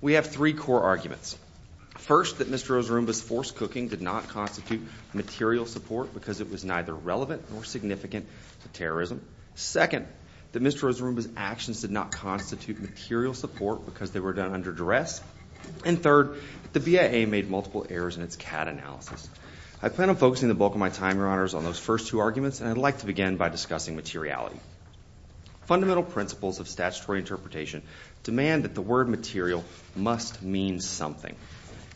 We have three core arguments. First, that Mr. Ozurumba's forced cooking did not constitute material support because it was neither relevant nor significant to terrorism. Second, that Mr. Ozurumba's actions did not constitute material support because they were done under duress. And third, the BIA made multiple errors in its CAD analysis. I plan on focusing the bulk of my time, your honors, on those first two arguments and I'd like to begin by discussing materiality. Fundamental principles of statutory interpretation demand that the word material must mean something.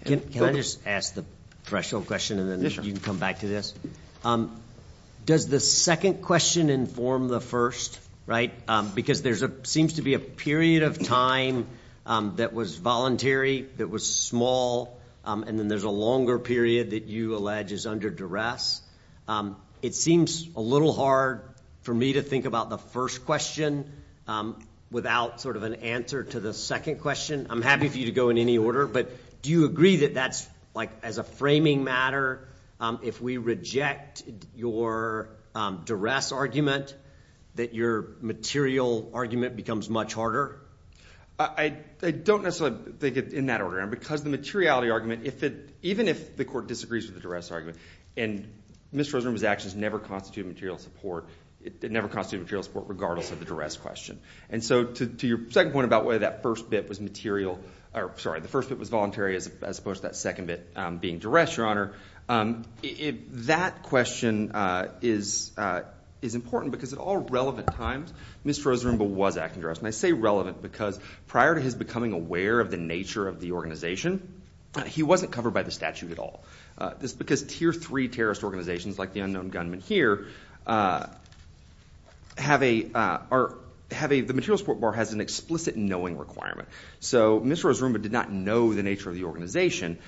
Can I just ask the threshold question and then you can come back to this? Does the second question inform the first, right? Because there's a seems to be a period of time that was voluntary, that was small, and then there's a longer period that you allege is under duress. It seems a little hard for me to think about the first question without sort of an answer to the second question. I'm happy for you to go in any order, but do you agree that that's like as a framing matter, if we reject your duress argument, that your material argument becomes much harder? I don't necessarily think it's in that order because the materiality argument, even if the court disagrees with the duress argument, and Mr. Ozurumba's actions never constituted material support, it never constituted material support regardless of the duress question. And so to your second point about whether that first bit was material, or sorry, the first bit was voluntary as opposed to that second bit being duress, Your Honor, that question is important because at all relevant times, Mr. Ozurumba was acting duress. And I say relevant because prior to his becoming aware of the nature of the organization, he wasn't covered by the statute at all. This is because tier three terrorist organizations like the known gunmen here, the material support bar has an explicit knowing requirement. So Mr. Ozurumba did not know the nature of the organization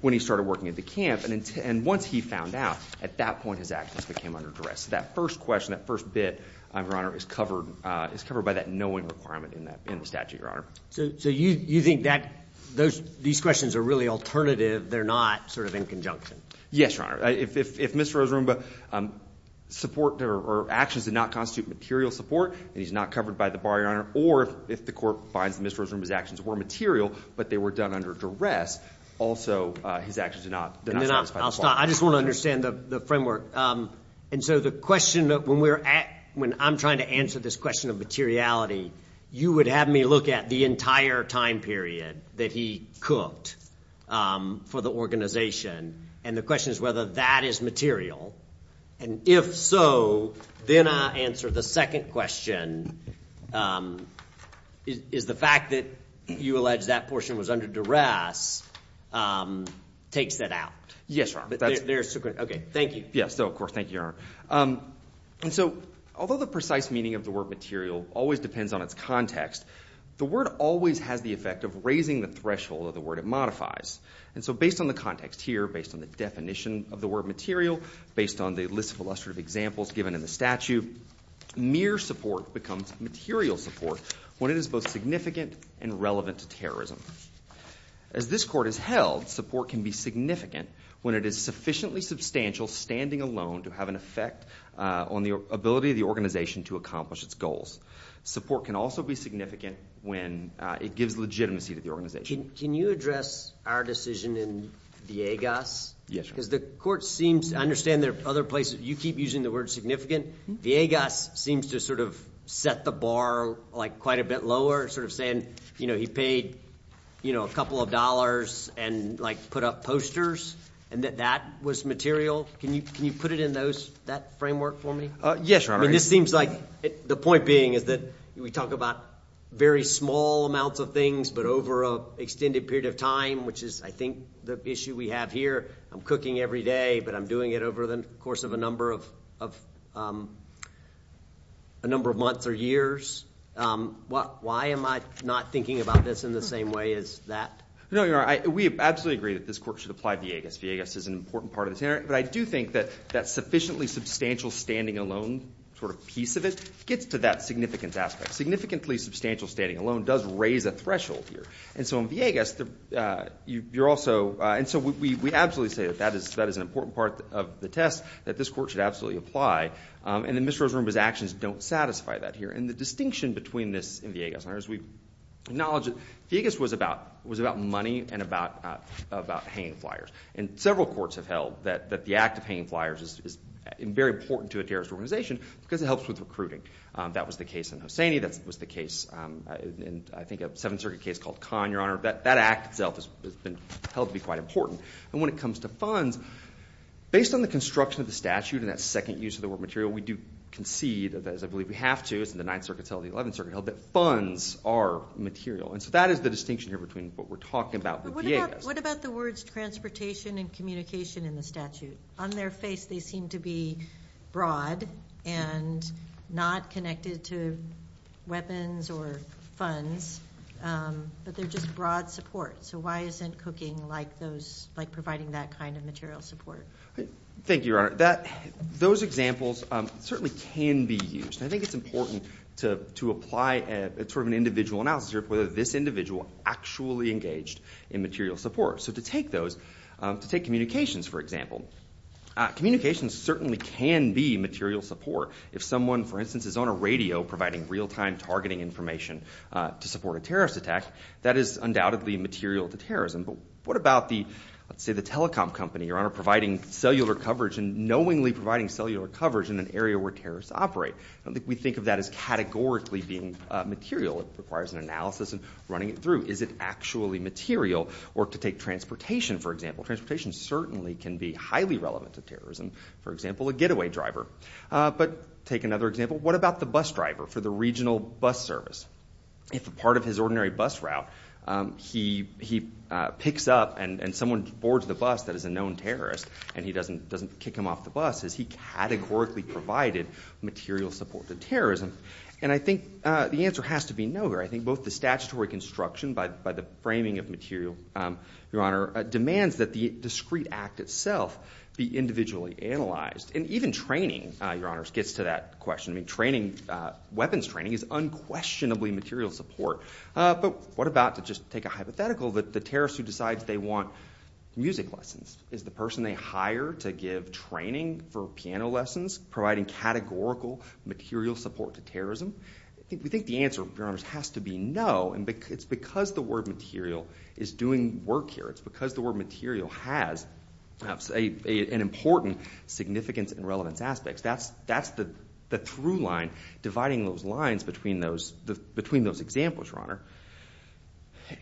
when he started working at the camp, and once he found out, at that point his actions became under duress. That first question, that first bit, Your Honor, is covered by that knowing requirement in the statute, Your Honor. So you think that these questions are really alternative, they're not sort of in conjunction? Yes, Your Honor. If Mr. Ozurumba's support or actions did not constitute material support, and he's not covered by the bar, Your Honor, or if the court finds that Mr. Ozurumba's actions were material, but they were done under duress, also his actions did not satisfy the bar. I just want to understand the framework. And so the question that when we're at, when I'm trying to answer this question of materiality, you would have me look at the entire time period that he cooked for the organization, and the question is whether that is material, and if so, then I answer the second question, is the fact that you allege that portion was under duress takes that out? Yes, Your Honor. Okay, thank you. Yes, of course, thank you, Your Honor. And so, although the precise meaning of the word material always depends on its context, the word always has the effect of raising the threshold of the word it modifies. And so based on the context here, based on the definition of the word material, based on the list of illustrative examples given in the statute, mere support becomes material support when it is both significant and relevant to terrorism. As this court has held, support can be significant when it is sufficiently substantial standing alone to have an effect on the ability of the organization to accomplish its goals. Support can also be significant when it gives legitimacy to the organization. Can you address our decision in VIEGAS? Yes, Your Honor. Because the court seems to understand there are other places, you keep using the word significant, VIEGAS seems to sort of set the bar like quite a bit lower, sort of saying, you know, he paid, you know, a couple of dollars and like put up posters, and that that was material. Can you put it in those, that framework for me? Yes, Your Honor. This seems like, the point being is that we talk about very small amounts of things, but over a extended period of time, which is I think the issue we have here, I'm cooking every day, but I'm doing it over the course of a number of a number of months or years. Why am I not thinking about this in the same way as that? No, Your Honor, we absolutely agree that this court should apply VIEGAS. VIEGAS is an important part of this, but I do think that that sufficiently substantial standing alone, sort of piece of it, gets to that significance aspect. Significantly substantial standing alone does raise a threshold here. And so in VIEGAS, you're also, and so we absolutely say that that is that is an important part of the test, that this court should absolutely apply, and then Ms. Rosarumba's actions don't satisfy that here. And the distinction between this and VIEGAS, Your Honor, is we acknowledge that VIEGAS was about, was about money and about about hanging flyers. And several courts have held that the act of hanging flyers is very important to a terrorist organization because it helps with recruiting. That was the case in Hosseini, that was the case in I think a Seventh Circuit case called Kahn, Your Honor. That act itself has been held to be quite important. And when it comes to funds, based on the construction of the statute and that second use of the word material, we do concede, as I believe we have to, it's in the Ninth Circuit and the Eleventh Circuit, that funds are material. And so that is the distinction here between what we're talking about with VIEGAS. What about the words transportation and communication in the statute? On their face they seem to be broad and not connected to weapons or funds, but they're just broad support. So why isn't cooking like those, like providing that kind of material support? Thank you, Your Honor. That, those examples certainly can be used. I think it's important to apply a sort of an individual analysis here, whether this individual actually engaged in material support. So to take those, to take communications for example, communications certainly can be material support. If someone, for instance, is on a radio providing real-time targeting information to support a terrorist attack, that is undoubtedly material to terrorism. But what about the, let's say the telecom company, Your Honor, providing cellular coverage and knowingly providing cellular coverage in an area where terrorists operate? I don't think we think of that as categorically being material. It requires an analysis and running it through. Is it actually material? Or to take transportation for example, transportation certainly can be highly relevant to terrorism. For example, a getaway driver. But take another example, what about the bus driver for the regional bus service? If a part of his ordinary bus route, he picks up and someone boards the bus that is a known terrorist and he doesn't kick him off the bus, has he categorically provided material support to terrorism? And I think the answer has to be no. I think both the statutory construction by the framing of material, Your Honor, demands that the discrete act itself be individually analyzed. And even training, Your Honor, gets to that question. I mean training, weapons training is unquestionably material support. But what about, to just take a hypothetical, that the terrorist who decides they want music lessons, is the person they hire to give training for piano lessons, providing categorical material support to terrorism? I think we think the answer, Your Honor, has to be no. And it's because the word material is doing work here. It's because the word material has an important significance and relevance aspects. That's the through line, dividing those lines between those examples, Your Honor.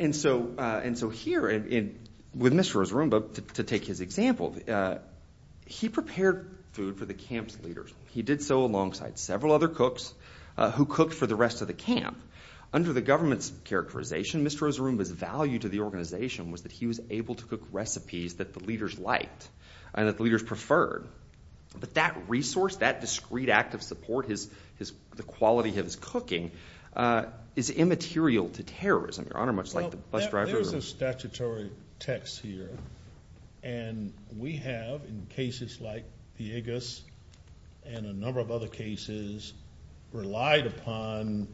And so here, with Mr. Rosarumba, to take his example, he prepared food for the camp's leaders. He did so alongside several other cooks who cooked for the rest of the camp. Under the government's characterization, Mr. Rosarumba's value to the organization was that he was able to cook recipes that the leaders liked and that the leaders preferred. But that resource, that discrete act of support, the quality of his cooking, is immaterial to terrorism, Your Honor, much like the bus driver. There's a statutory text here. And we have, in cases like Villegas and a number of other cases, relied upon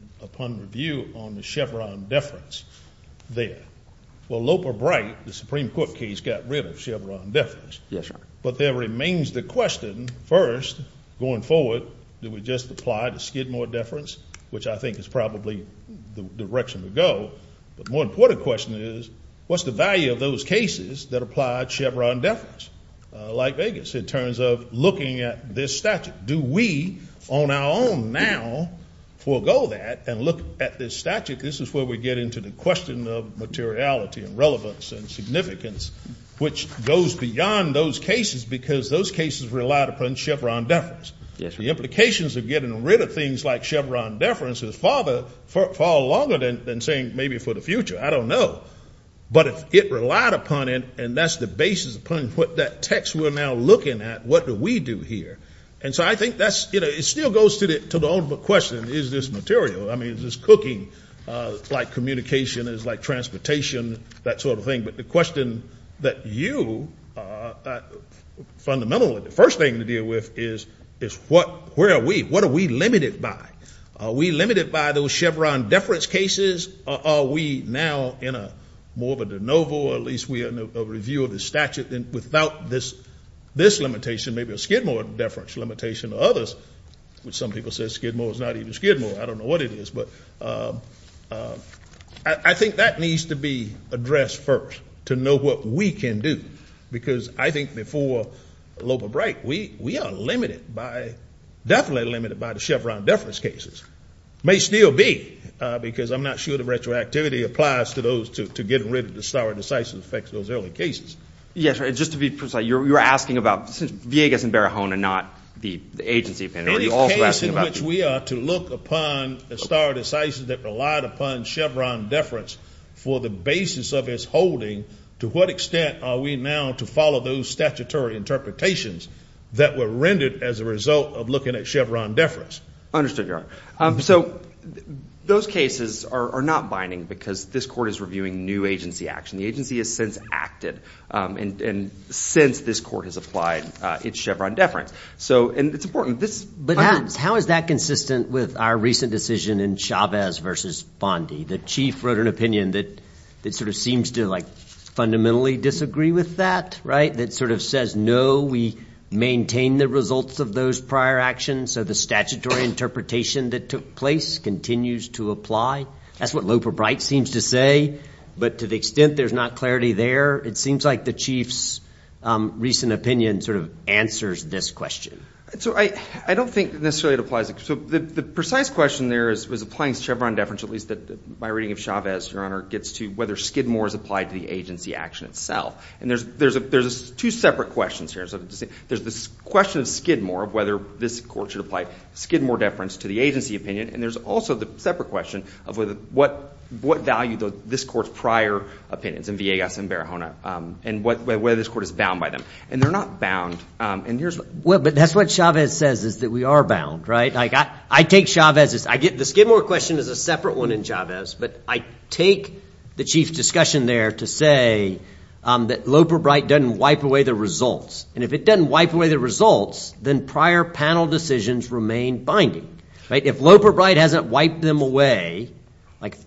review on the Chevron deference there. Well, Loper Bright, the Supreme Court case, got rid of Chevron deference. Yes, sir. But there remains the question, first, going forward, did we just apply to Skidmore deference, which I think is probably the direction to go. But more important question is, what's the value of those cases that applied Chevron deference, like Vegas, in terms of looking at this statute? Do we, on our own now, forego that and look at this statute? This is where we get into the question of materiality and relevance and significance, which goes beyond those cases because those cases relied upon Chevron deference. Yes, sir. The implications of getting rid of things like Chevron deference is far longer than saying maybe for the future. I don't know. But if it relied upon it, and that's the basis upon what that text we're now looking at, what do we do here? And so I think that's, you know, it still goes to the ultimate question, is this material? I mean, is this cooking? Like, communication is like transportation, that sort of thing. But the question that you, fundamentally, the first thing to deal with is, is what, where are we? What are we limited by? Are we limited by those Chevron deference cases, or are we now in a more of a de novo, or at least we are in a review of the statute, then without this limitation, maybe a Skidmore deference limitation or others, which some people say Skidmore is not even Skidmore. I don't know what it is, but I think that needs to be addressed first, to know what we can do. Because I think before Loba Bright, we are limited by, definitely will be, because I'm not sure the retroactivity applies to those two, to getting rid of the stare decisis effects of those early cases. Yes, just to be precise, you're asking about Villegas and Barahona, not the agency, are you also asking about... The case in which we are to look upon the stare decisis that relied upon Chevron deference for the basis of its holding, to what extent are we now to follow those statutory interpretations that were rendered as a result of looking at Chevron deference? Understood, Your Honor. So, those cases are not binding because this court is reviewing new agency action. The agency has since acted, and since this court has applied its Chevron deference. So, and it's important, this... But how is that consistent with our recent decision in Chavez versus Bondi? The chief wrote an opinion that sort of seems to, like, fundamentally disagree with that, right? That sort of says, no, we maintain the results of those prior actions, so the statutory interpretation that took place continues to apply. That's what Loper Bright seems to say, but to the extent there's not clarity there, it seems like the chief's recent opinion sort of answers this question. So, I don't think necessarily it applies... So, the precise question there is, was applying Chevron deference, at least that my reading of Chavez, Your Honor, gets to whether Skidmore is applied to the agency action itself. And there's two separate questions here. There's this question of Skidmore, of whether this court should apply Skidmore deference to the agency opinion, and there's also the separate question of what value this court's prior opinions, in Villegas and Barahona, and whether this court is bound by them. And they're not bound, and here's what... Well, but that's what Chavez says, is that we are bound, right? I take Chavez's... The Skidmore question is a separate one in Chavez, but I take the chief's discussion there to say that Loper Bright doesn't wipe away the results. And if it doesn't wipe away the results, then prior panel decisions remain binding, right? If Loper Bright hasn't wiped them away,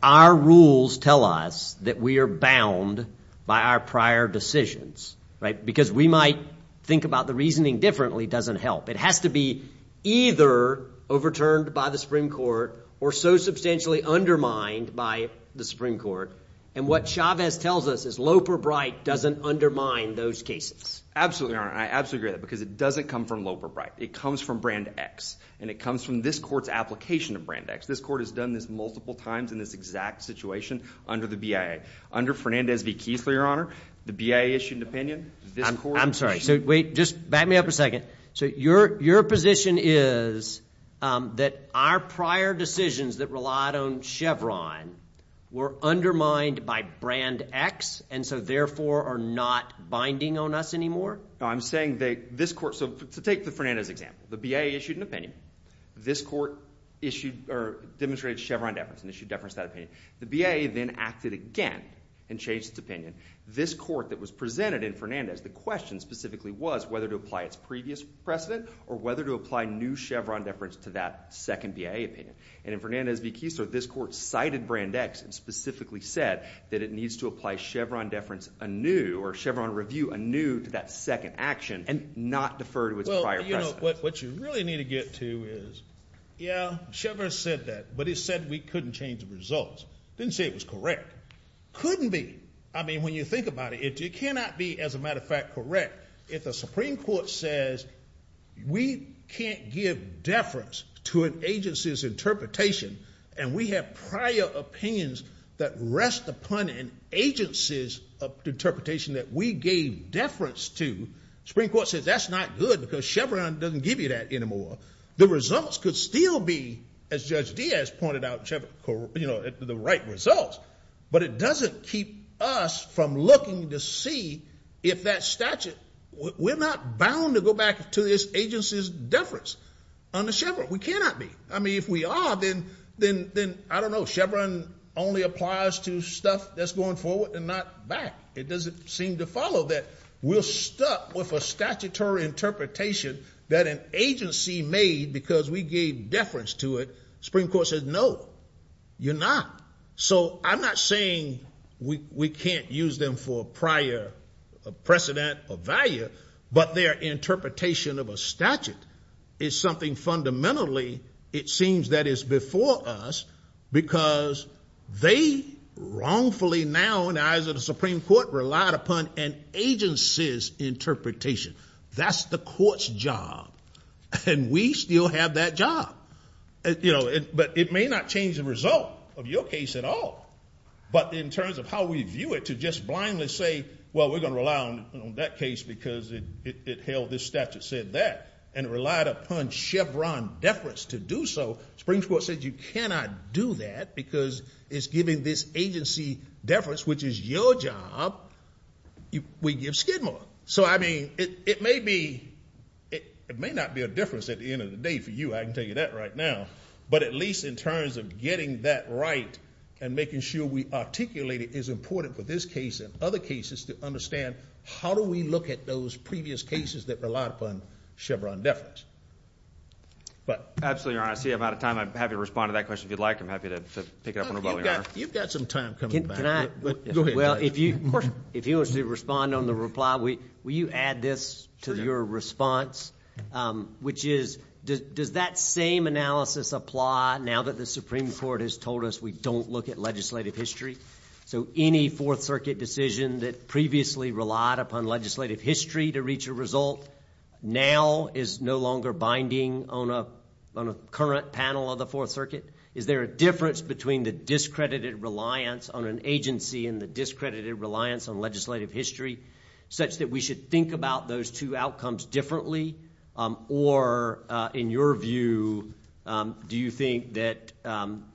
our rules tell us that we are bound by our prior decisions, right? Because we might think about the reasoning differently doesn't help. It has to be either overturned by the Supreme Court, or so substantially undermined by the Supreme Court. And what Chavez tells us is Loper Bright doesn't undermine those cases. Absolutely, Your Honor. I absolutely agree with that, because it doesn't come from Loper Bright. It comes from Brand X, and it comes from this court's application of Brand X. This court has done this multiple times in this exact situation under the BIA. Under Fernandez v. Kiesler, Your Honor, the BIA-issued opinion, this court... I'm sorry, so wait, just back me up a second. So your position is that our prior decisions that relied on Chevron were undermined by Brand X, and so therefore are not binding on us anymore? No, I'm saying that this court... so to take the Fernandez example, the BIA issued an opinion. This court issued or demonstrated Chevron deference, and issued deference to that opinion. The BIA then acted again and changed its opinion. This court that was presented in Fernandez, the question specifically was whether to apply its previous precedent, or whether to apply new Chevron deference to that second BIA opinion. And in Fernandez v. Kiesler, this court cited Brand X, and specifically said that it needs to apply Chevron deference anew, or Chevron review anew, to that second action, and not defer to its prior precedent. Well, you know, what you really need to get to is, yeah, Chevron said that, but it said we couldn't change the results. Didn't say it was correct. Couldn't be. I mean, when you think about it, it cannot be, as a Supreme Court says, we can't give deference to an agency's interpretation, and we have prior opinions that rest upon an agency's interpretation that we gave deference to. The Supreme Court says that's not good, because Chevron doesn't give you that anymore. The results could still be, as Judge Diaz pointed out, you know, the right results, but it doesn't keep us from looking to see if that statute... We're not bound to go back to this agency's deference on the Chevron. We cannot be. I mean, if we are, then I don't know. Chevron only applies to stuff that's going forward and not back. It doesn't seem to follow that. We're stuck with a statutory interpretation that an agency made because we gave deference to it. Supreme Court says, no, you're not. So I'm not saying we can't use them for prior precedent or value, but their interpretation of a statute is something fundamentally, it seems that is before us, because they wrongfully now, in the eyes of the Supreme Court, relied upon an agency's interpretation. That's the court's job, and we still have that job. But it may not change the result of your case at all. But in terms of how we view it, to just blindly say, well, we're gonna rely on that case because it held this statute said that, and relied upon Chevron deference to do so, Supreme Court said, you cannot do that because it's giving this agency deference, which is your job, we give Skidmore. So, I mean, it may not be a difference at the end of the day for you, I can tell you that right now, but at least in terms of getting that right and making sure we articulate it is important for this case and other cases to understand how do we look at those previous cases that relied upon Chevron deference. But absolutely, Your Honor, I see I'm out of time. I'd be happy to respond to that question if you'd like. I'm happy to pick it up on the phone, Your Honor. You've got some time coming back. Can I? Well, if you want to respond on the reply, will you add this to your response, which is, does that same analysis apply now that the Supreme Court has told us we don't look at legislative history? So any Fourth Circuit decision that previously relied upon legislative history to reach a result now is no longer binding on a current panel of the Fourth Circuit. Is there a difference between the discredited reliance on an agency and the discredited reliance on legislative history such that we should think about those two outcomes differently? Or in your view, do you think that, um,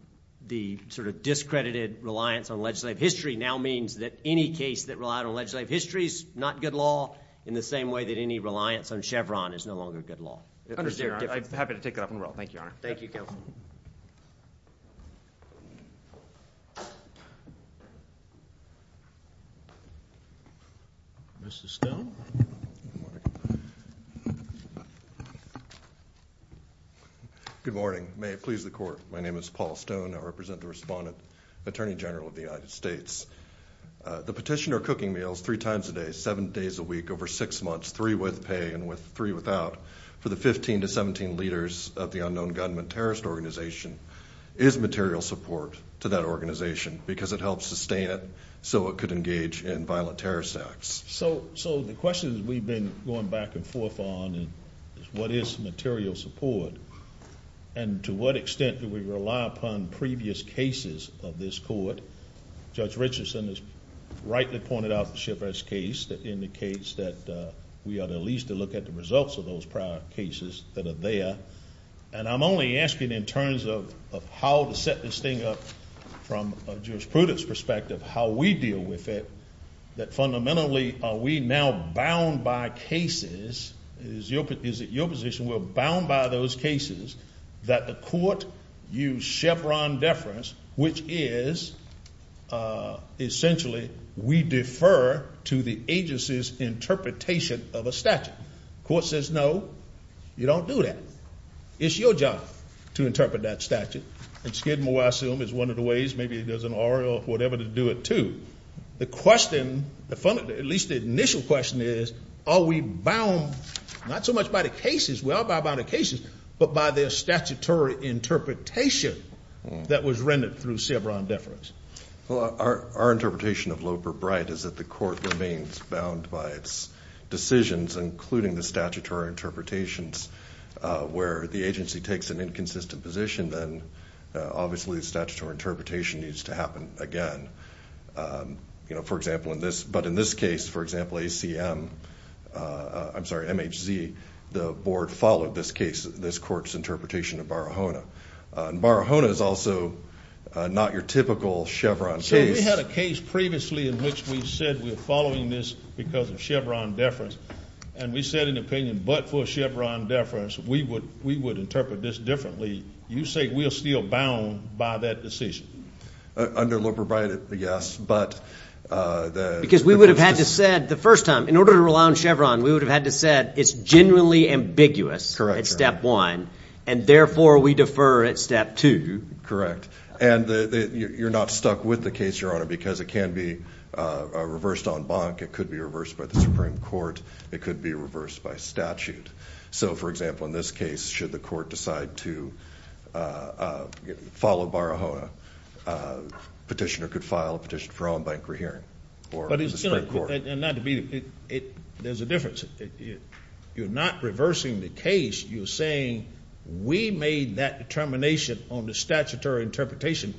the sort of discredited reliance on legislative history now means that any case that relied on legislative history is not good law in the same way that any reliance on Chevron is no longer good law. I'm happy to take it up in a row. Thank you, Your Honor. Thank you, Counsel. Mr Stone. Good morning. May it please the court. My name is Paul Stone. I represent the respondent attorney general of the United States. The petitioner cooking meals three times a day, seven days a week over six months, three with pay and with three without for the 15 to 17 leaders of the unknown government terrorist organization is material support to that organization because it helps sustain it so it could engage in violent terrorist acts. So So the questions we've been going back and forth on what is material support and to what extent do we rely upon previous cases of this court? Judge Richardson is rightly pointed out the shipwrecked case that indicates that we are the least to look at the results of those prior cases that are there. And I'm only asking in terms of how to set this thing up from jurisprudence perspective, how we deal with it, that fundamentally are we now bound by cases is your is it your position were bound by those cases that the court use Chevron deference, which is, uh, essentially we defer to the agency's interpretation of a statute. Court says, No, you don't do that. It's your job to interpret that statute. And skid more assume is one of the ways maybe it an oral whatever to do it to the question. At least the initial question is, are we bound not so much by the cases? Well, by about occasions, but by their statutory interpretation that was rendered through Chevron deference. Well, our interpretation of Loper Bright is that the court remains bound by its decisions, including the statutory interpretations where the agency takes an inconsistent position. Then, obviously, the statutory interpretation needs to happen again. Um, you know, for example, in this, but in this case, for example, a C. M. Uh, I'm sorry. M. H. Z. The board followed this case. This court's interpretation of Barahona Barahona is also not your typical Chevron. So we had a case previously in which we said we're following this because of Chevron deference. And we said in opinion, but for Chevron deference, we would we would interpret this differently. You say we're still bound by that decision under Loper Bright. Yes, but because we would have had to said the first time in order to rely on Chevron, we would have had to said it's genuinely ambiguous. Correct Step one. And therefore, we defer at step two. Correct. And you're not stuck with the case, Your Honor, because it can be reversed on bonk. It could be reversed by the Supreme Court. It could be reversed by statute. So, for example, in this case, should the court decide to, uh, follow Barahona, uh, petitioner could file a petition for own bank rehearing. But it's not to be. There's a difference. You're not reversing the case. You're saying we made that determination on the statutory interpretation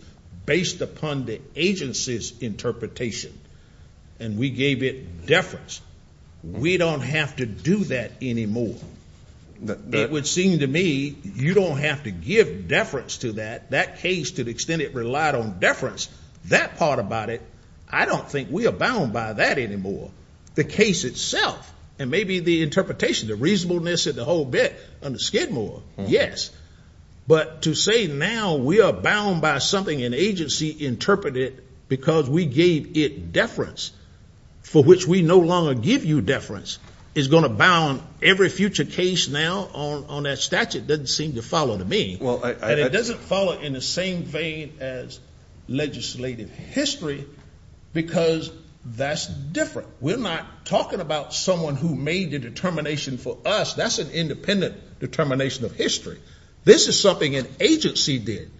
based upon the agency's interpretation, and we gave it deference. We don't have to do that anymore. It would seem to me you don't have to give deference to that. That case, to the extent it relied on deference, that part about it. I don't think we're bound by that anymore. The case itself and maybe the interpretation, the reasonableness of the whole bit under Skidmore. Yes. But to say now we are bound by something an agency interpreted because we gave it deference, for which we no longer give you deference, is going to bound every future case now on that statute doesn't seem to follow to me. And it doesn't follow in the same vein as legislative history, because that's different. We're not talking about someone who made the determination for us. That's an independent determination of history. This is something an agency did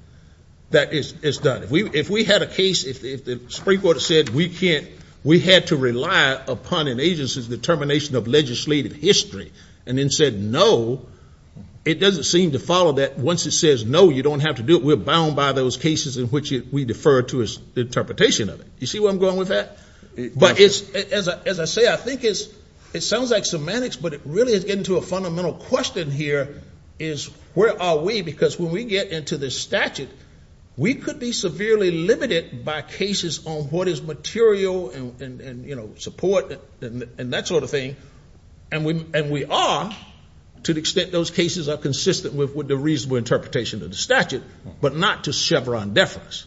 that is done. If we had a case, if the Supreme Court said we had to rely upon an agency's determination of legislative history, and then said no, it doesn't seem to follow that. Once it says no, you don't have to do it. We're bound by those cases in which we defer to the interpretation of it. You see where I'm going with that? But as I say, I think it sounds like semantics, but it gets into a fundamental question here is where are we? Because when we get into this statute, we could be severely limited by cases on what is material and support and that sort of thing. And we are to the extent those cases are consistent with the reasonable interpretation of the statute, but not to Chevron deference.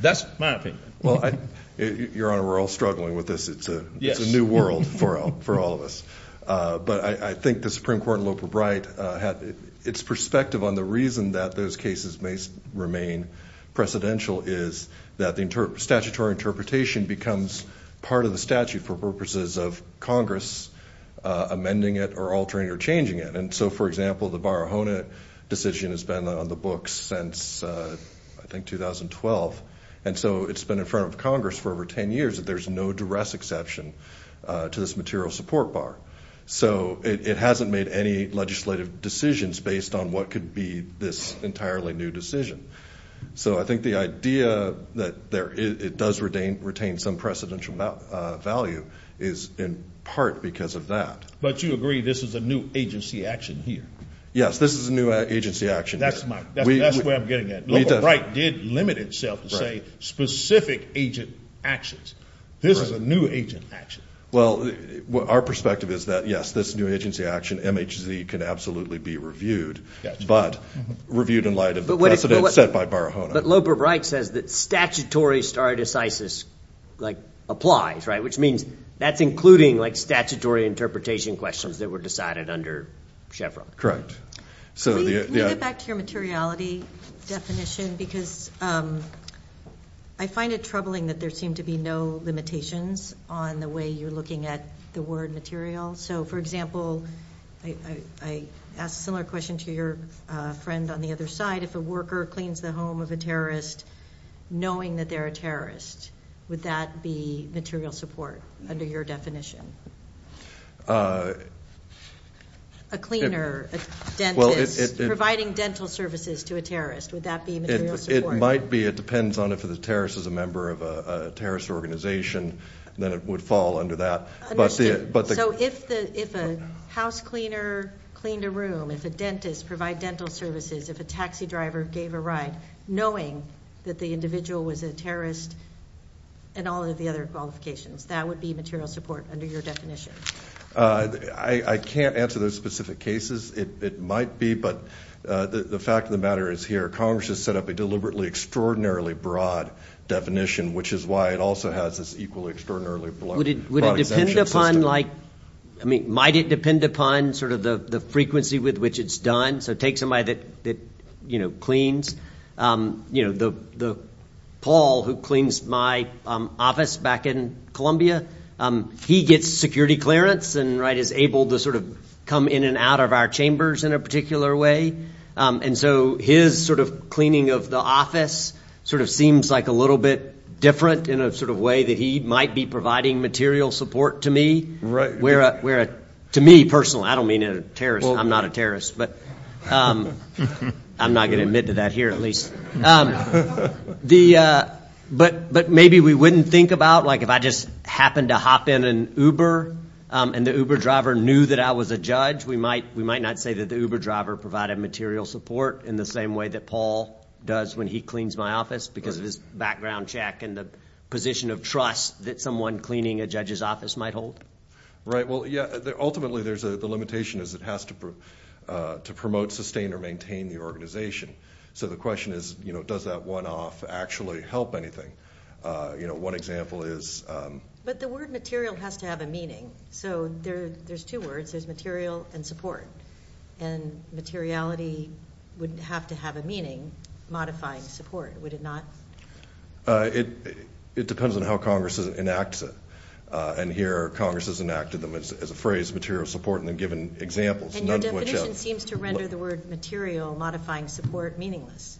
That's my opinion. Well, Your Honor, we're all struggling with this. It's a new world for all of us. But I think the Supreme Court and Loper-Bright, its perspective on the reason that those cases may remain precedential is that the statutory interpretation becomes part of the statute for purposes of Congress amending it or altering or changing it. And so, for example, the Barahona decision has been on the books since I think 2012. And so it's been in front of Congress for over 10 years that there's no duress exception to this material support bar. So it hasn't made any legislative decisions based on what could be this entirely new decision. So I think the idea that it does retain some precedential value is in part because of that. But you agree this is a new agency action here? Yes, this is a new agency action here. That's where I'm getting at. Loper-Bright did limit itself to say specific agent actions. This is a new agent action. Well, our perspective is that, yes, this new agency action MHC can absolutely be reviewed, but reviewed in light of the precedent set by Barahona. But Loper-Bright says that statutory stare decisis applies, right? Which means that's including statutory interpretation questions that were decided under Chevron. Correct. Can we get back to your materiality definition? Because I find it troubling that there seem to be no limitations on the way you're looking at the word material. So, for example, I asked a similar question to your friend on the other side, if a worker cleans the home of a terrorist, knowing that they're a terrorist, would that be material support under your definition? A cleaner, a dentist, providing dental services to a terrorist, would that be material support? It might be. It depends on if the terrorist is a member of a terrorist organization, then it would fall under that. Understood. So, if a house cleaner cleaned a room, if a dentist provided dental services, if a taxi driver gave a ride, knowing that the individual was a terrorist and all of the other qualifications, that would be material support under your definition? I can't answer those specific cases. It might be, but the fact of the matter is here, Congress has set up a deliberately extraordinarily broad definition, which is why it also has this equally extraordinarily broad exemption system. Would it depend upon like, I mean, might it depend upon sort of the frequency with which it's done? So, take somebody that cleans. Paul, who cleans my office back in Columbia, he gets security clearance and is able to sort of come in and out of our chambers in a particular way. And so, his sort of cleaning of the office sort of seems like a little bit different in a sort of way that he might be providing material support to me, where to me personally, I don't mean a terrorist, I'm not a terrorist, but I'm not going to admit to that here, at least. But maybe we wouldn't think about like, if I just happened to hop in an Uber and the Uber driver knew that I was a judge, we might not say that the Uber driver provided material support in the same way that Paul does when he cleans my office because of his background check and the position of trust that someone cleaning a judge's office might hold. Right. Well, yeah. Ultimately, there's a limitation is it has to promote, sustain, or maintain the organization. So, the question is, does that one off actually help anything? One example is... But the word material has to have a meaning. So, there's two words, there's material and support. And materiality wouldn't have to have a meaning modifying support, would it not? It depends on how Congress enacts it. And here, Congress has enacted them as a phrase, material support, and then given examples, none of which... And your definition seems to render the word material modifying support meaningless.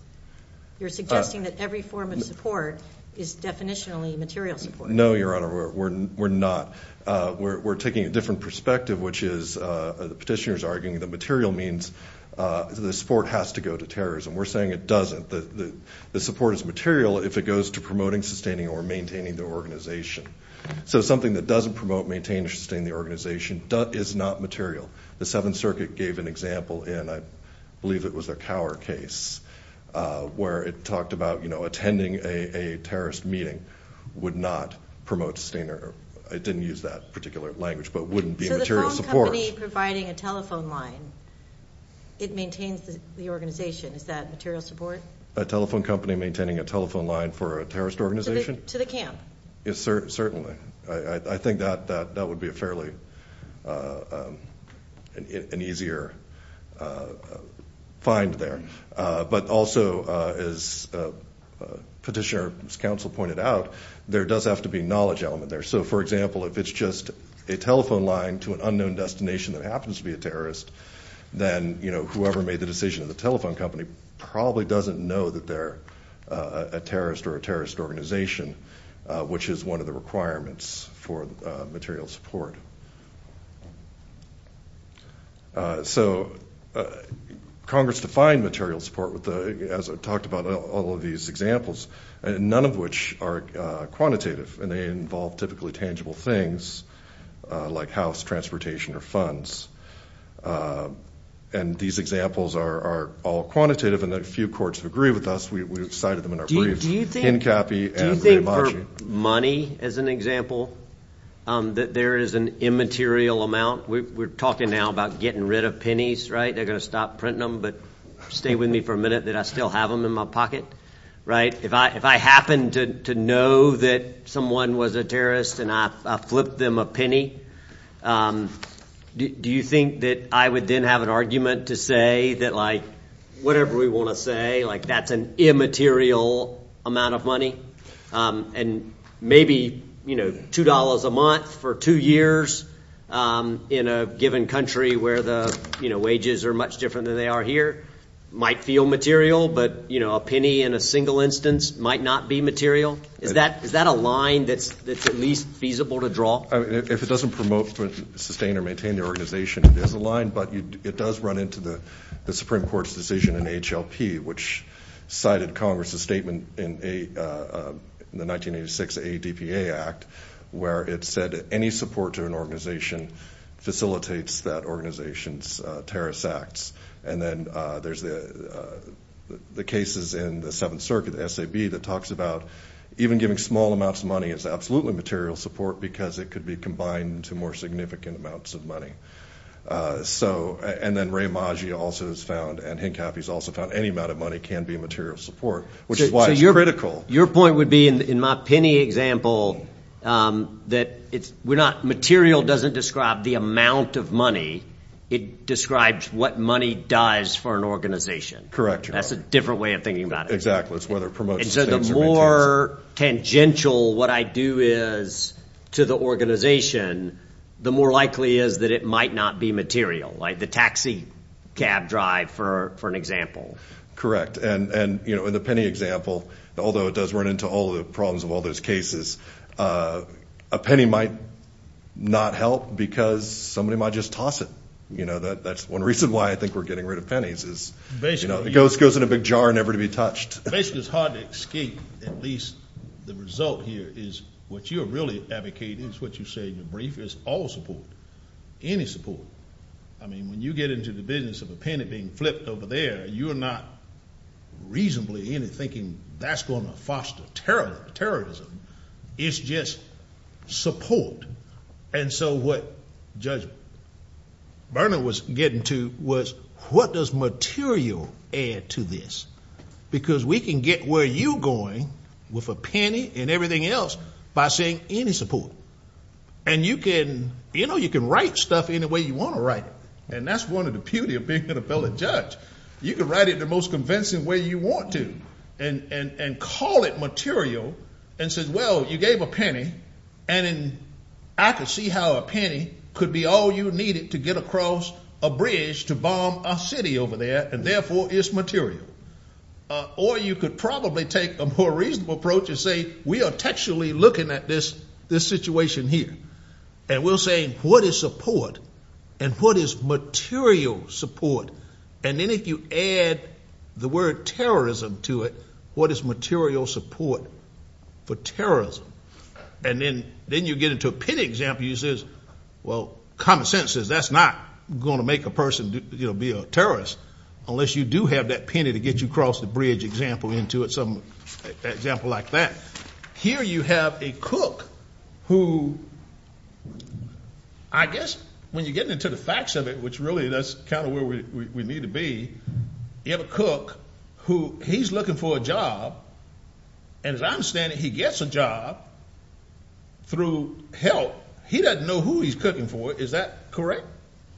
You're suggesting that every form of support is definitionally material support. No, Your Honor, we're not. We're taking a different perspective, which is, the petitioner's arguing that material means the support has to go to terrorism. We're saying it doesn't. The support is material if it goes to promoting, sustaining, or maintaining the organization. So, something that doesn't promote, maintain, or sustain the organization is not material. The Seventh Circuit gave an example in, I believe it was a Cower case, where it talked about attending a terrorist meeting would not promote sustainer... It didn't use that particular language, but wouldn't be material support. So, the phone company providing a telephone line, it maintains the organization. Is that material support? A telephone company maintaining a telephone line for a terrorist organization? To the camp. Yes, certainly. I think that would be a fairly... An easier find there. But also, as Petitioner's counsel pointed out, there does have to be a knowledge element there. So, for example, if it's just a telephone line to an unknown destination that happens to be a terrorist, then whoever made the decision in the telephone company probably doesn't know that they're a terrorist or a terrorist organization, which is one of the requirements for material support. So, Congress defined material support with the... As I talked about all of these examples, and none of which are quantitative, and they involve typically tangible things like house, transportation, or funds. And these examples are all quantitative, and a few courts have agreed with us, we've cited them in our briefs. Do you think for money, as an example, that there is an immaterial amount? We're talking now about getting rid of pennies, right? They're gonna stop printing them, but stay with me for a minute that I still have them in my pocket. If I happen to know that someone was a terrorist and I flipped them a penny, do you think that I would then have an argument to say that whatever we wanna say, that's an immaterial amount of money? And maybe $2 a month for two years in a given country where the wages are much different than they are here might feel material, but a penny in a single instance might not be material? Is that a line that's at least feasible to draw? If it doesn't promote, sustain, or maintain the organization, it is a line, but it does run into the Supreme Court's decision in HLP, which cited Congress's statement in the 1986 ADPA Act, where it said any support to an organization facilitates that organization's terrorist acts. And then there's the cases in the Seventh Circuit, the SAB, that talks about even giving small amounts of money is absolutely material support because it could be combined to more significant amounts of money. So, and then Ray Maggi also has found, and Hinkaff has also found, any amount of money can be material support, which is why it's critical. Your point would be, in my penny example, that material doesn't describe the amount of money, it describes what money does for an organization. Correct. That's a different way of thinking about it. Exactly, it's whether it promotes or maintains. And so the more tangential what I do is to the organization, the more likely is that it might not be material, like the taxi cab drive, for an example. Correct. And in the penny example, although it does run into all the problems of all those cases, a penny might not help because somebody might just toss it. That's one reason why I think we're getting rid of pennies, is it goes in a big jar, never to be touched. Basically, it's hard to escape, at least the result here, is what you're really advocating, is what you say in your brief, is all support, any support. When you get into the business of a penny being flipped over there, you are not reasonably thinking that's gonna foster terrorism, it's just support. And so what Judge Burnham was getting to was, what does material add to this? Because we can get where you're going with a penny and everything else by saying, any support. And you can write stuff any way you wanna write it, and that's one of the beauty of being an appellate judge. You can write it the most convincing way you want to, and call it material, and say, well, you gave a penny, and I could see how a penny could be all you needed to get across a bridge to bomb a city over there, and therefore, it's material. Or you could probably take a more reasonable approach and say, we are textually looking at this situation here, and we'll say, what is support, and what is material support? And then if you add the word terrorism to it, what is material support for terrorism? And then you get into a penny example, you says, well, common sense says, that's not gonna make a person be a terrorist, unless you do have that penny to get you across the bridge, example into it, example like that. Here, you have a cook who, I guess, when you get into the facts of it, which really, that's kinda where we need to be, you have a cook who he's looking for a job, and as I understand it, he gets a job through help. He doesn't know who he's cooking for, is that correct?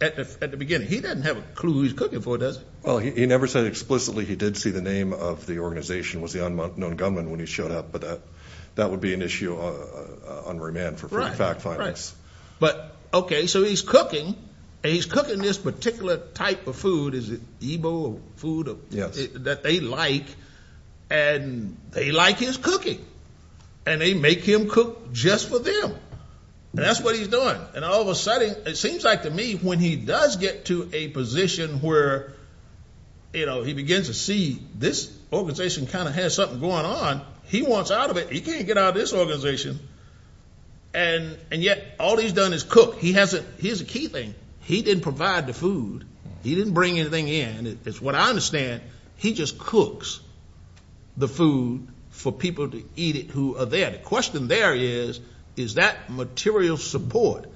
At the beginning, he doesn't have a clue who he's cooking for, does he? Well, he never said explicitly he did see the name of the organization, was the unknown gunman when he showed up, but that would be an issue on remand for fact findings. Right, right. But, okay, so he's cooking, and he's cooking this particular type of food, is it Igbo food that they like, and they like his cooking, and they make him cook just for them, and that's what he's doing. And all of a sudden, it seems like to me, when he does get to a position where he begins to see this organization kinda has something going on, he wants out of it, he can't get out of this organization, and yet all he's done is cook. He hasn't... Here's the key thing, he didn't provide the food, he didn't bring anything in, it's what I understand, he just cooks the food for people to eat it who are there. The question there is, is that material support?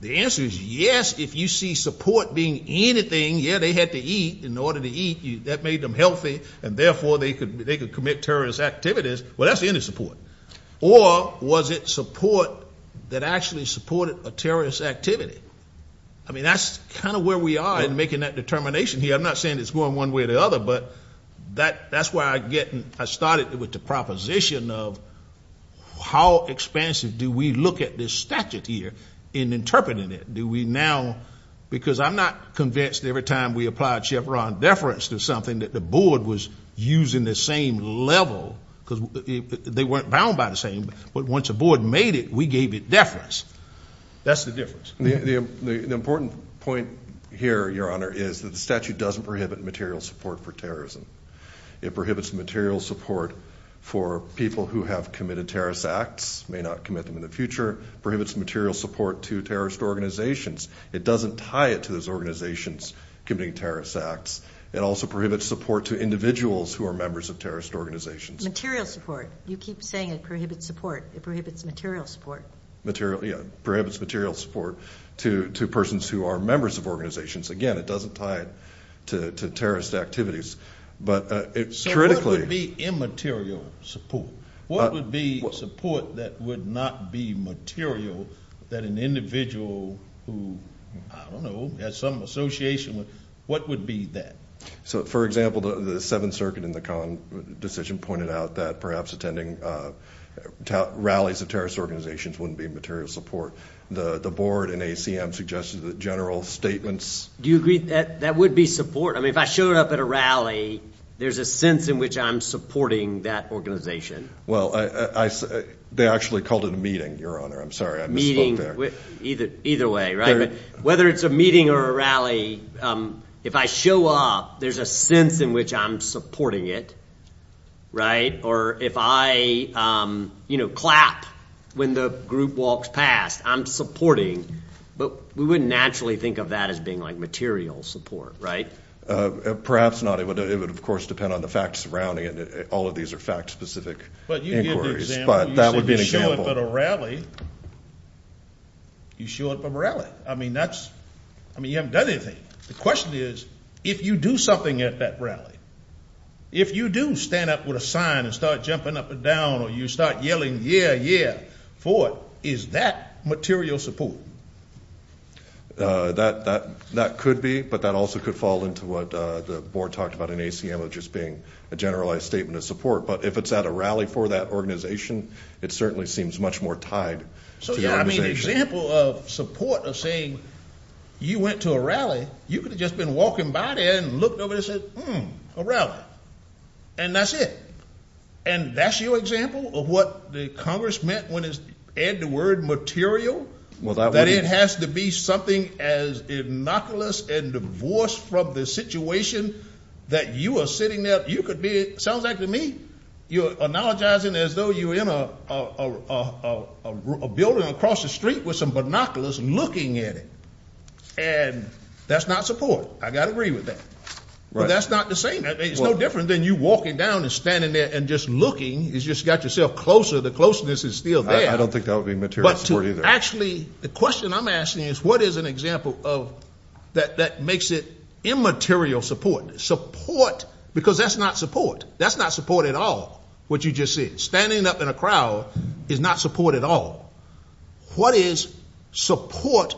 The answer is yes, if you see support being anything, yeah, they had to eat in order to eat, that made them healthy, and therefore they could commit terrorist activities, well, that's the end of support. Or was it support that actually supported a terrorist activity? I mean, that's kinda where we are in making that determination here, I'm not saying it's going one way or the other, but that's why I started with the proposition of how expansive do we look at this statute here in interpreting it? Do we now... Because I'm not convinced every time we applied Chevron deference to something that the board was using the same level, because they weren't bound by the same, but once the board made it, we gave it deference. That's the difference. The important point here, Your Honor, is that the statute doesn't prohibit material support for terrorism, it prohibits the material support for people who have committed terrorist acts, may not commit them in the future, prohibits material support to terrorist organizations. It doesn't tie it to those organizations committing terrorist acts, it also prohibits support to individuals who are members of terrorist organizations. Material support. You keep saying it prohibits support, it prohibits material support. You know, it prohibits material support to persons who are members of organizations. Again, it doesn't tie it to So what would be immaterial support? What would be support that would not be material that an individual who, I don't know, has some association with, what would be that? So, for example, the Seventh Circuit in the Common Decision pointed out that perhaps attending rallies of terrorist organizations wouldn't be material support. The board and ACM suggested that general statements... Do you agree that would be support? I mean, if I showed up at a rally, there's a sense in which I'm supporting that organization. Well, they actually called it a meeting, Your Honor. I'm sorry, I misspoke there. Either way, right? Whether it's a meeting or a rally, if I show up, there's a sense in which I'm supporting it, right? Or if I, you know, clap when the group walks past, I'm supporting. But we wouldn't naturally think of that as being, like, material support, right? Perhaps not. It would, of course, depend on the facts surrounding it. All of these are fact-specific inquiries, but that would be an example. You show up at a rally, you show up at a rally. I mean, that's, I mean, you haven't done anything. The question is, if you do something at that rally, if you do stand up with a sign and start jumping up and down, or you start yelling, yeah, yeah, for it, is that material support? That could be, but that also could fall into what the board talked about in ACM of just being a generalized statement of support. But if it's at a rally for that organization, it certainly seems much more tied. So, yeah, I mean, an example of support of saying, you went to a rally, you could have just been walking by there and looked over there and said, hmm, a rally. And that's it. And that's your example of what the Congress meant when it's, add the word material, that it has to be something as innocuous and divorced from the situation that you are sitting there. You could be, it sounds like to me, you're acknowledging as though you're in a building across the street with some binoculars looking at it. And that's not support. I got to agree with that, but that's not the same. It's no different than you walking down and standing there and just looking. You just got yourself closer. The closeness is still there. I don't think that would be material support either. Actually, the question I'm asking is, what is an example of, that makes it immaterial support? Support, because that's not support. That's not support at all, what you just said. Standing up in a crowd is not support at all. What is support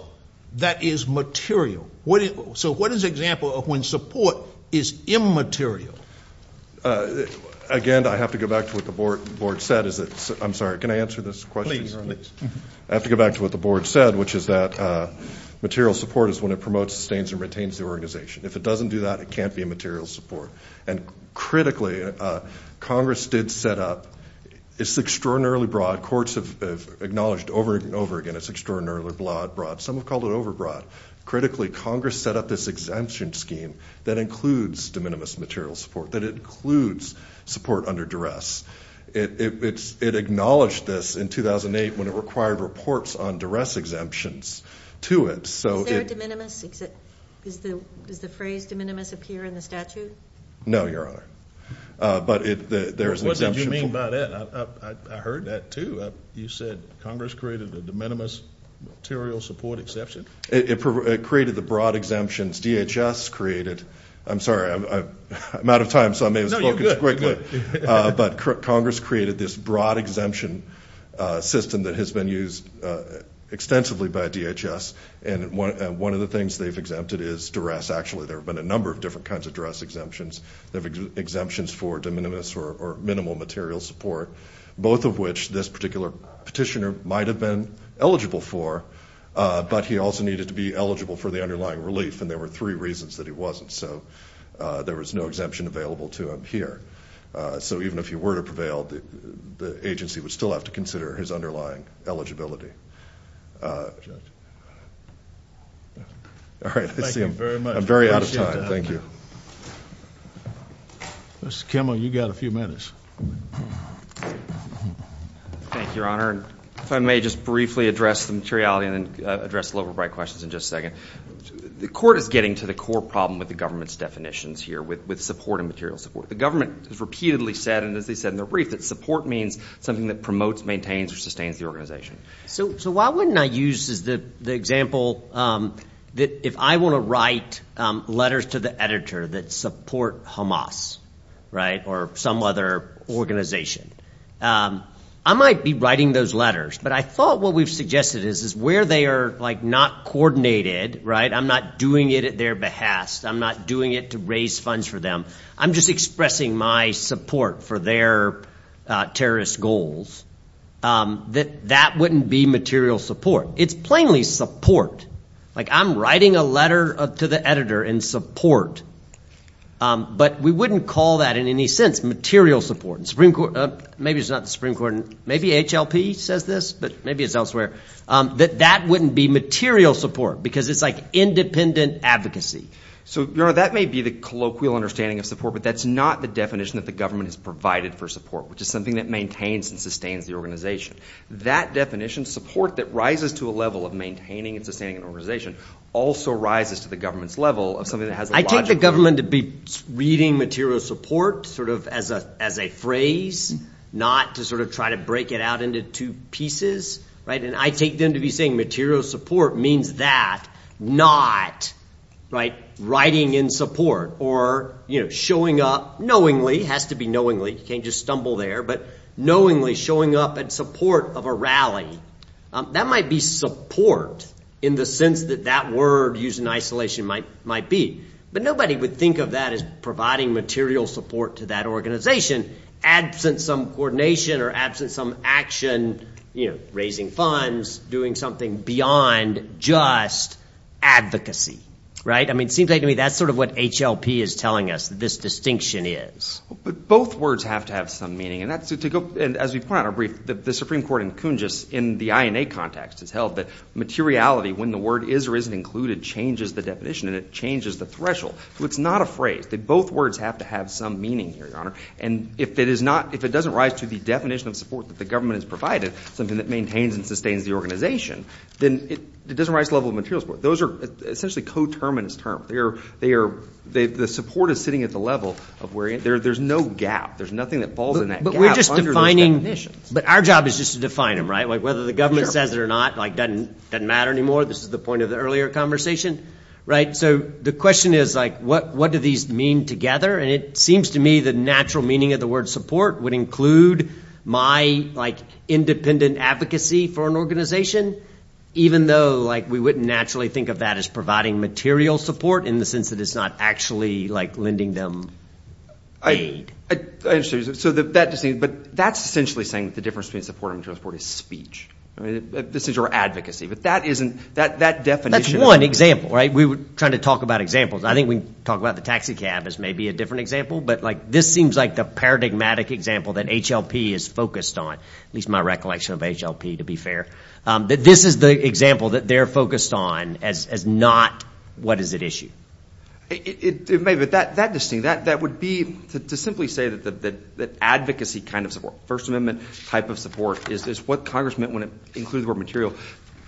that is material? So what is an example of when support is immaterial? Again, I have to go back to what the board said. Is it, I'm sorry, can I answer this question? I have to go back to what the board said, which is that material support is when it promotes, sustains, and retains the organization. If it doesn't do that, it can't be a material support. And critically, Congress did set up, it's extraordinarily broad. Courts have acknowledged over and over again, it's extraordinarily broad. Some have called it overbroad. Critically, Congress set up this exemption scheme that includes de minimis material support, that includes support under duress. It acknowledged this in 2008 when it required reports on duress exemptions to it. Is there a de minimis? Does the phrase de minimis appear in the statute? No, Your Honor. But there is an exemption... What did you mean by that? I heard that too. You said Congress created a de minimis material support exception? It created the broad exemptions. DHS created, I'm sorry, I'm out of time, so I may have spoken too quickly. No, you're good. But Congress created this broad exemption system that has been used extensively by DHS. And one of the things they've exempted is duress. Actually, there have been a number of different kinds of duress exemptions. They have exemptions for de minimis or minimal material support, both of which this particular petitioner might have been eligible for, but he also needed to be eligible for the underlying relief, and there were three reasons that he wasn't. So there was no exemption available to him here. So even if he were to prevail, the agency would still have to consider his underlying eligibility. All right, I see I'm very out of time. Thank you. Mr. Kimmel, you got a few questions. Thank you, Your Honor. If I may just briefly address the materiality and then address the lower right questions in just a second. The court is getting to the core problem with the government's definitions here with support and material support. The government has repeatedly said, and as they said in the brief, that support means something that promotes, maintains, or sustains the organization. So why wouldn't I use as the example that if I want to write letters to the editor that support Hamas, right, or some other organization, I might be writing those letters, but I thought what we've suggested is where they are like not coordinated, right, I'm not doing it at their behest, I'm not doing it to raise funds for them, I'm just expressing my support for their terrorist goals, that that wouldn't be material support. It's plainly support. Like I'm writing a letter to the editor in support, but we wouldn't call that in any sense material support. Maybe it's not the Supreme Court, maybe HLP says this, but maybe it's elsewhere, that that wouldn't be material support because it's like independent advocacy. So, Your Honor, that may be the colloquial understanding of support, but that's not the definition that the government has provided for support, which is something that maintains and sustains the organization. That definition, support that rises to a level of maintaining and sustaining an organization, also rises to the government's level of something that has a logic. I take the government to be reading material support sort of as a phrase, not to sort of try to break it out into two pieces, right, and I take them to be saying material support means that, not, right, writing in support or, you know, showing up knowingly, has to be knowingly, you can't just stumble there, but knowingly showing up in support of a rally, that might be support in the sense that that word used in isolation might be, but nobody would think of that as providing material support to that organization, absent some coordination or absent some action, you know, raising funds, doing something beyond just advocacy, right? I mean, it seems like to me that's sort of what HLP is telling us, this distinction is. But both words have to have some meaning, and that's to go, and as we point out in our brief, the Supreme Court in Kunjus in the INA context has held that materiality, when the word is or isn't included, changes the definition and it changes the threshold. So it's not a phrase, that both words have to have some meaning here, Your Honor, and if it is not, if it doesn't rise to the definition of support that the government has provided, something that maintains and sustains the organization, then it doesn't rise to the level of material support. Those are essentially coterminous terms. They are, the support is sitting at the level of where, there's no gap, there's nothing that falls in that gap under those definitions. But our job is just to define them, right? Whether the government says it or not, like, doesn't matter anymore. This is the point of the earlier conversation, right? So the question is, like, what do these mean together? And it seems to me the natural meaning of the word support would include my, like, independent advocacy for an organization, even though, like, we wouldn't naturally think of that as providing material support in the sense that it's not actually, like, lending them aid. I understand, so that just means, but that's essentially saying that the difference between support and material support is speech. I mean, this is your advocacy, but that isn't, that definition. That's one example, right? We were trying to talk about examples. I think we can talk about the taxicab as maybe a different example, but, like, this seems like the paradigmatic example that HLP is focused on, at least my recollection of HLP, to be fair. This is the example that they're focused on as not, what is at issue? It may be, but that just seems, that would be, to simply say that advocacy kind of support, First Amendment type of support is what Congress meant when it included the word material.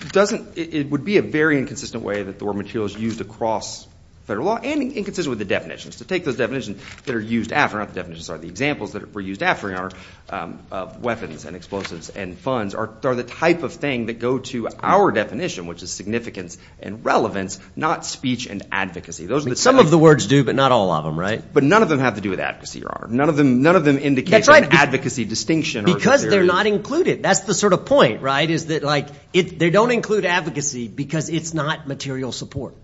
It doesn't, it would be a very inconsistent way that the word material is used across federal law and inconsistent with the definitions. To take those definitions that are used after, not the definitions, sorry, the examples that were used after, in your honor, of weapons and explosives and funds are the type of thing that go to our definition, which is significance and relevance, not speech and advocacy. Those are the... Some of the words do, but not all of them, right? But none of them have to do with advocacy, your honor. None of them, none of them indicate an advocacy distinction. Because they're not included. That's the sort of point, right? Is that like, they don't include advocacy because it's not material support.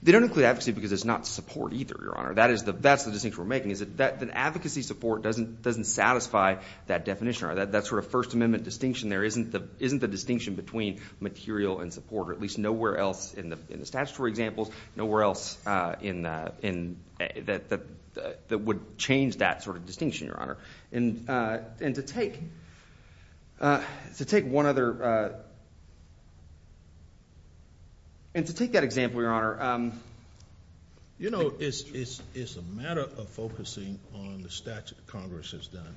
They don't include advocacy because it's not support either, your honor. That is the, that's the distinction we're making, is that advocacy support doesn't, doesn't satisfy that definition or that sort of First Amendment distinction. There isn't the, isn't the distinction between material and support or at least nowhere else in the, in the statutory examples, nowhere else in, that would change that sort of distinction, your honor. And, and to take, to take one other, and to take that example, your honor. You know, it's, it's, it's a matter of focusing on the statute Congress has done.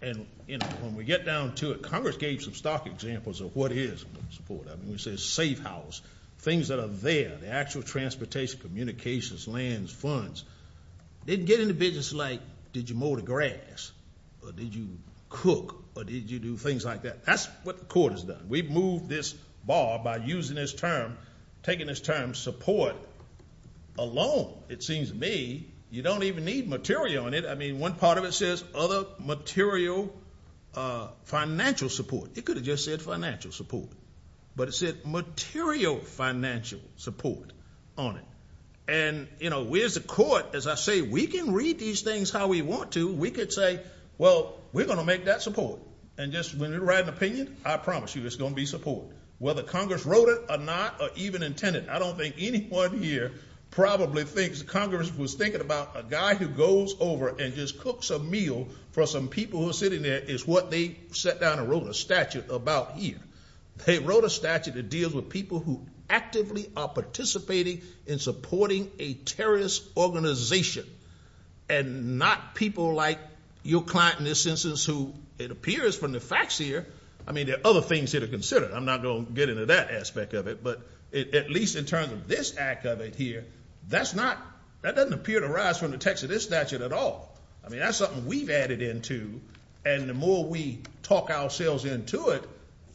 And, you know, when we get down to it, Congress gave some stock examples of what is support. I mean, we say safe house, things that are there, the actual transportation, communications, lands, funds. They didn't get into business like, did you mow the grass or did you cook or did you do things like that? That's what the court has done. We've moved this bar by using this term, taking this term support alone. It seems to me you don't even need material on it. I mean, one part of it says other material financial support. It could have just said financial support, but it said material financial support on it. And, you know, where's the court? As I say, we can read these things how we want to. We could say, well, we're going to make that support. And just when you write an opinion, I promise you it's going to be support. Whether Congress wrote it or not, or even intended, I don't think anyone here probably thinks Congress was thinking about a guy who goes over and just cooks a meal for some people who are sitting there is what they sat down and wrote a statute about here. They wrote a statute that deals with people who actively are participating in supporting a terrorist organization and not people like your client in this instance, who it appears from the facts here. I mean, there are other things that are considered. I'm not going to get into that aspect of it, but at least in terms of this act of it here, that's not that doesn't appear to rise from the text of this statute at all. I mean, that's something we've added into, and the more we talk ourselves into it,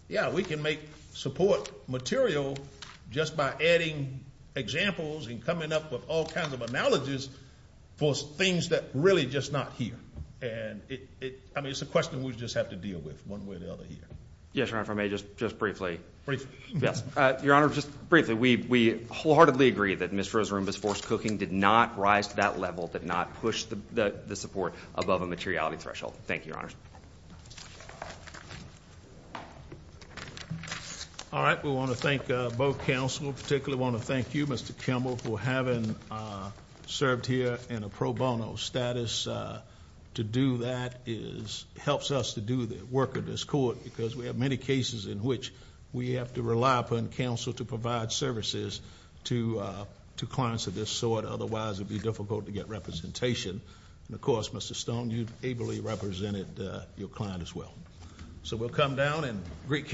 yeah, we can make support material just by adding examples and coming up with all kinds of analogies for things that really just not here. And I mean, it's a question we just have to deal with one way or the other here. Yes, Your Honor, if I may, just just briefly. Yes, Your Honor. Just briefly. We wholeheartedly agree that Mr. Roomba's forced cooking did not rise to that level, did not push the support above a materiality threshold. Thank you, Your Honor. All right. We want to thank both counsel, particularly want to thank you, Mr Kimball, for having served here in a pro bono status. To do that is helps us to do the work of this court because we have many cases in which we have to rely upon counsel to provide services to two clients of this sort. Otherwise it would be difficult to get representation. Of course, Mr Stone, you ably represented your client as well. So we'll come down and greet counsel.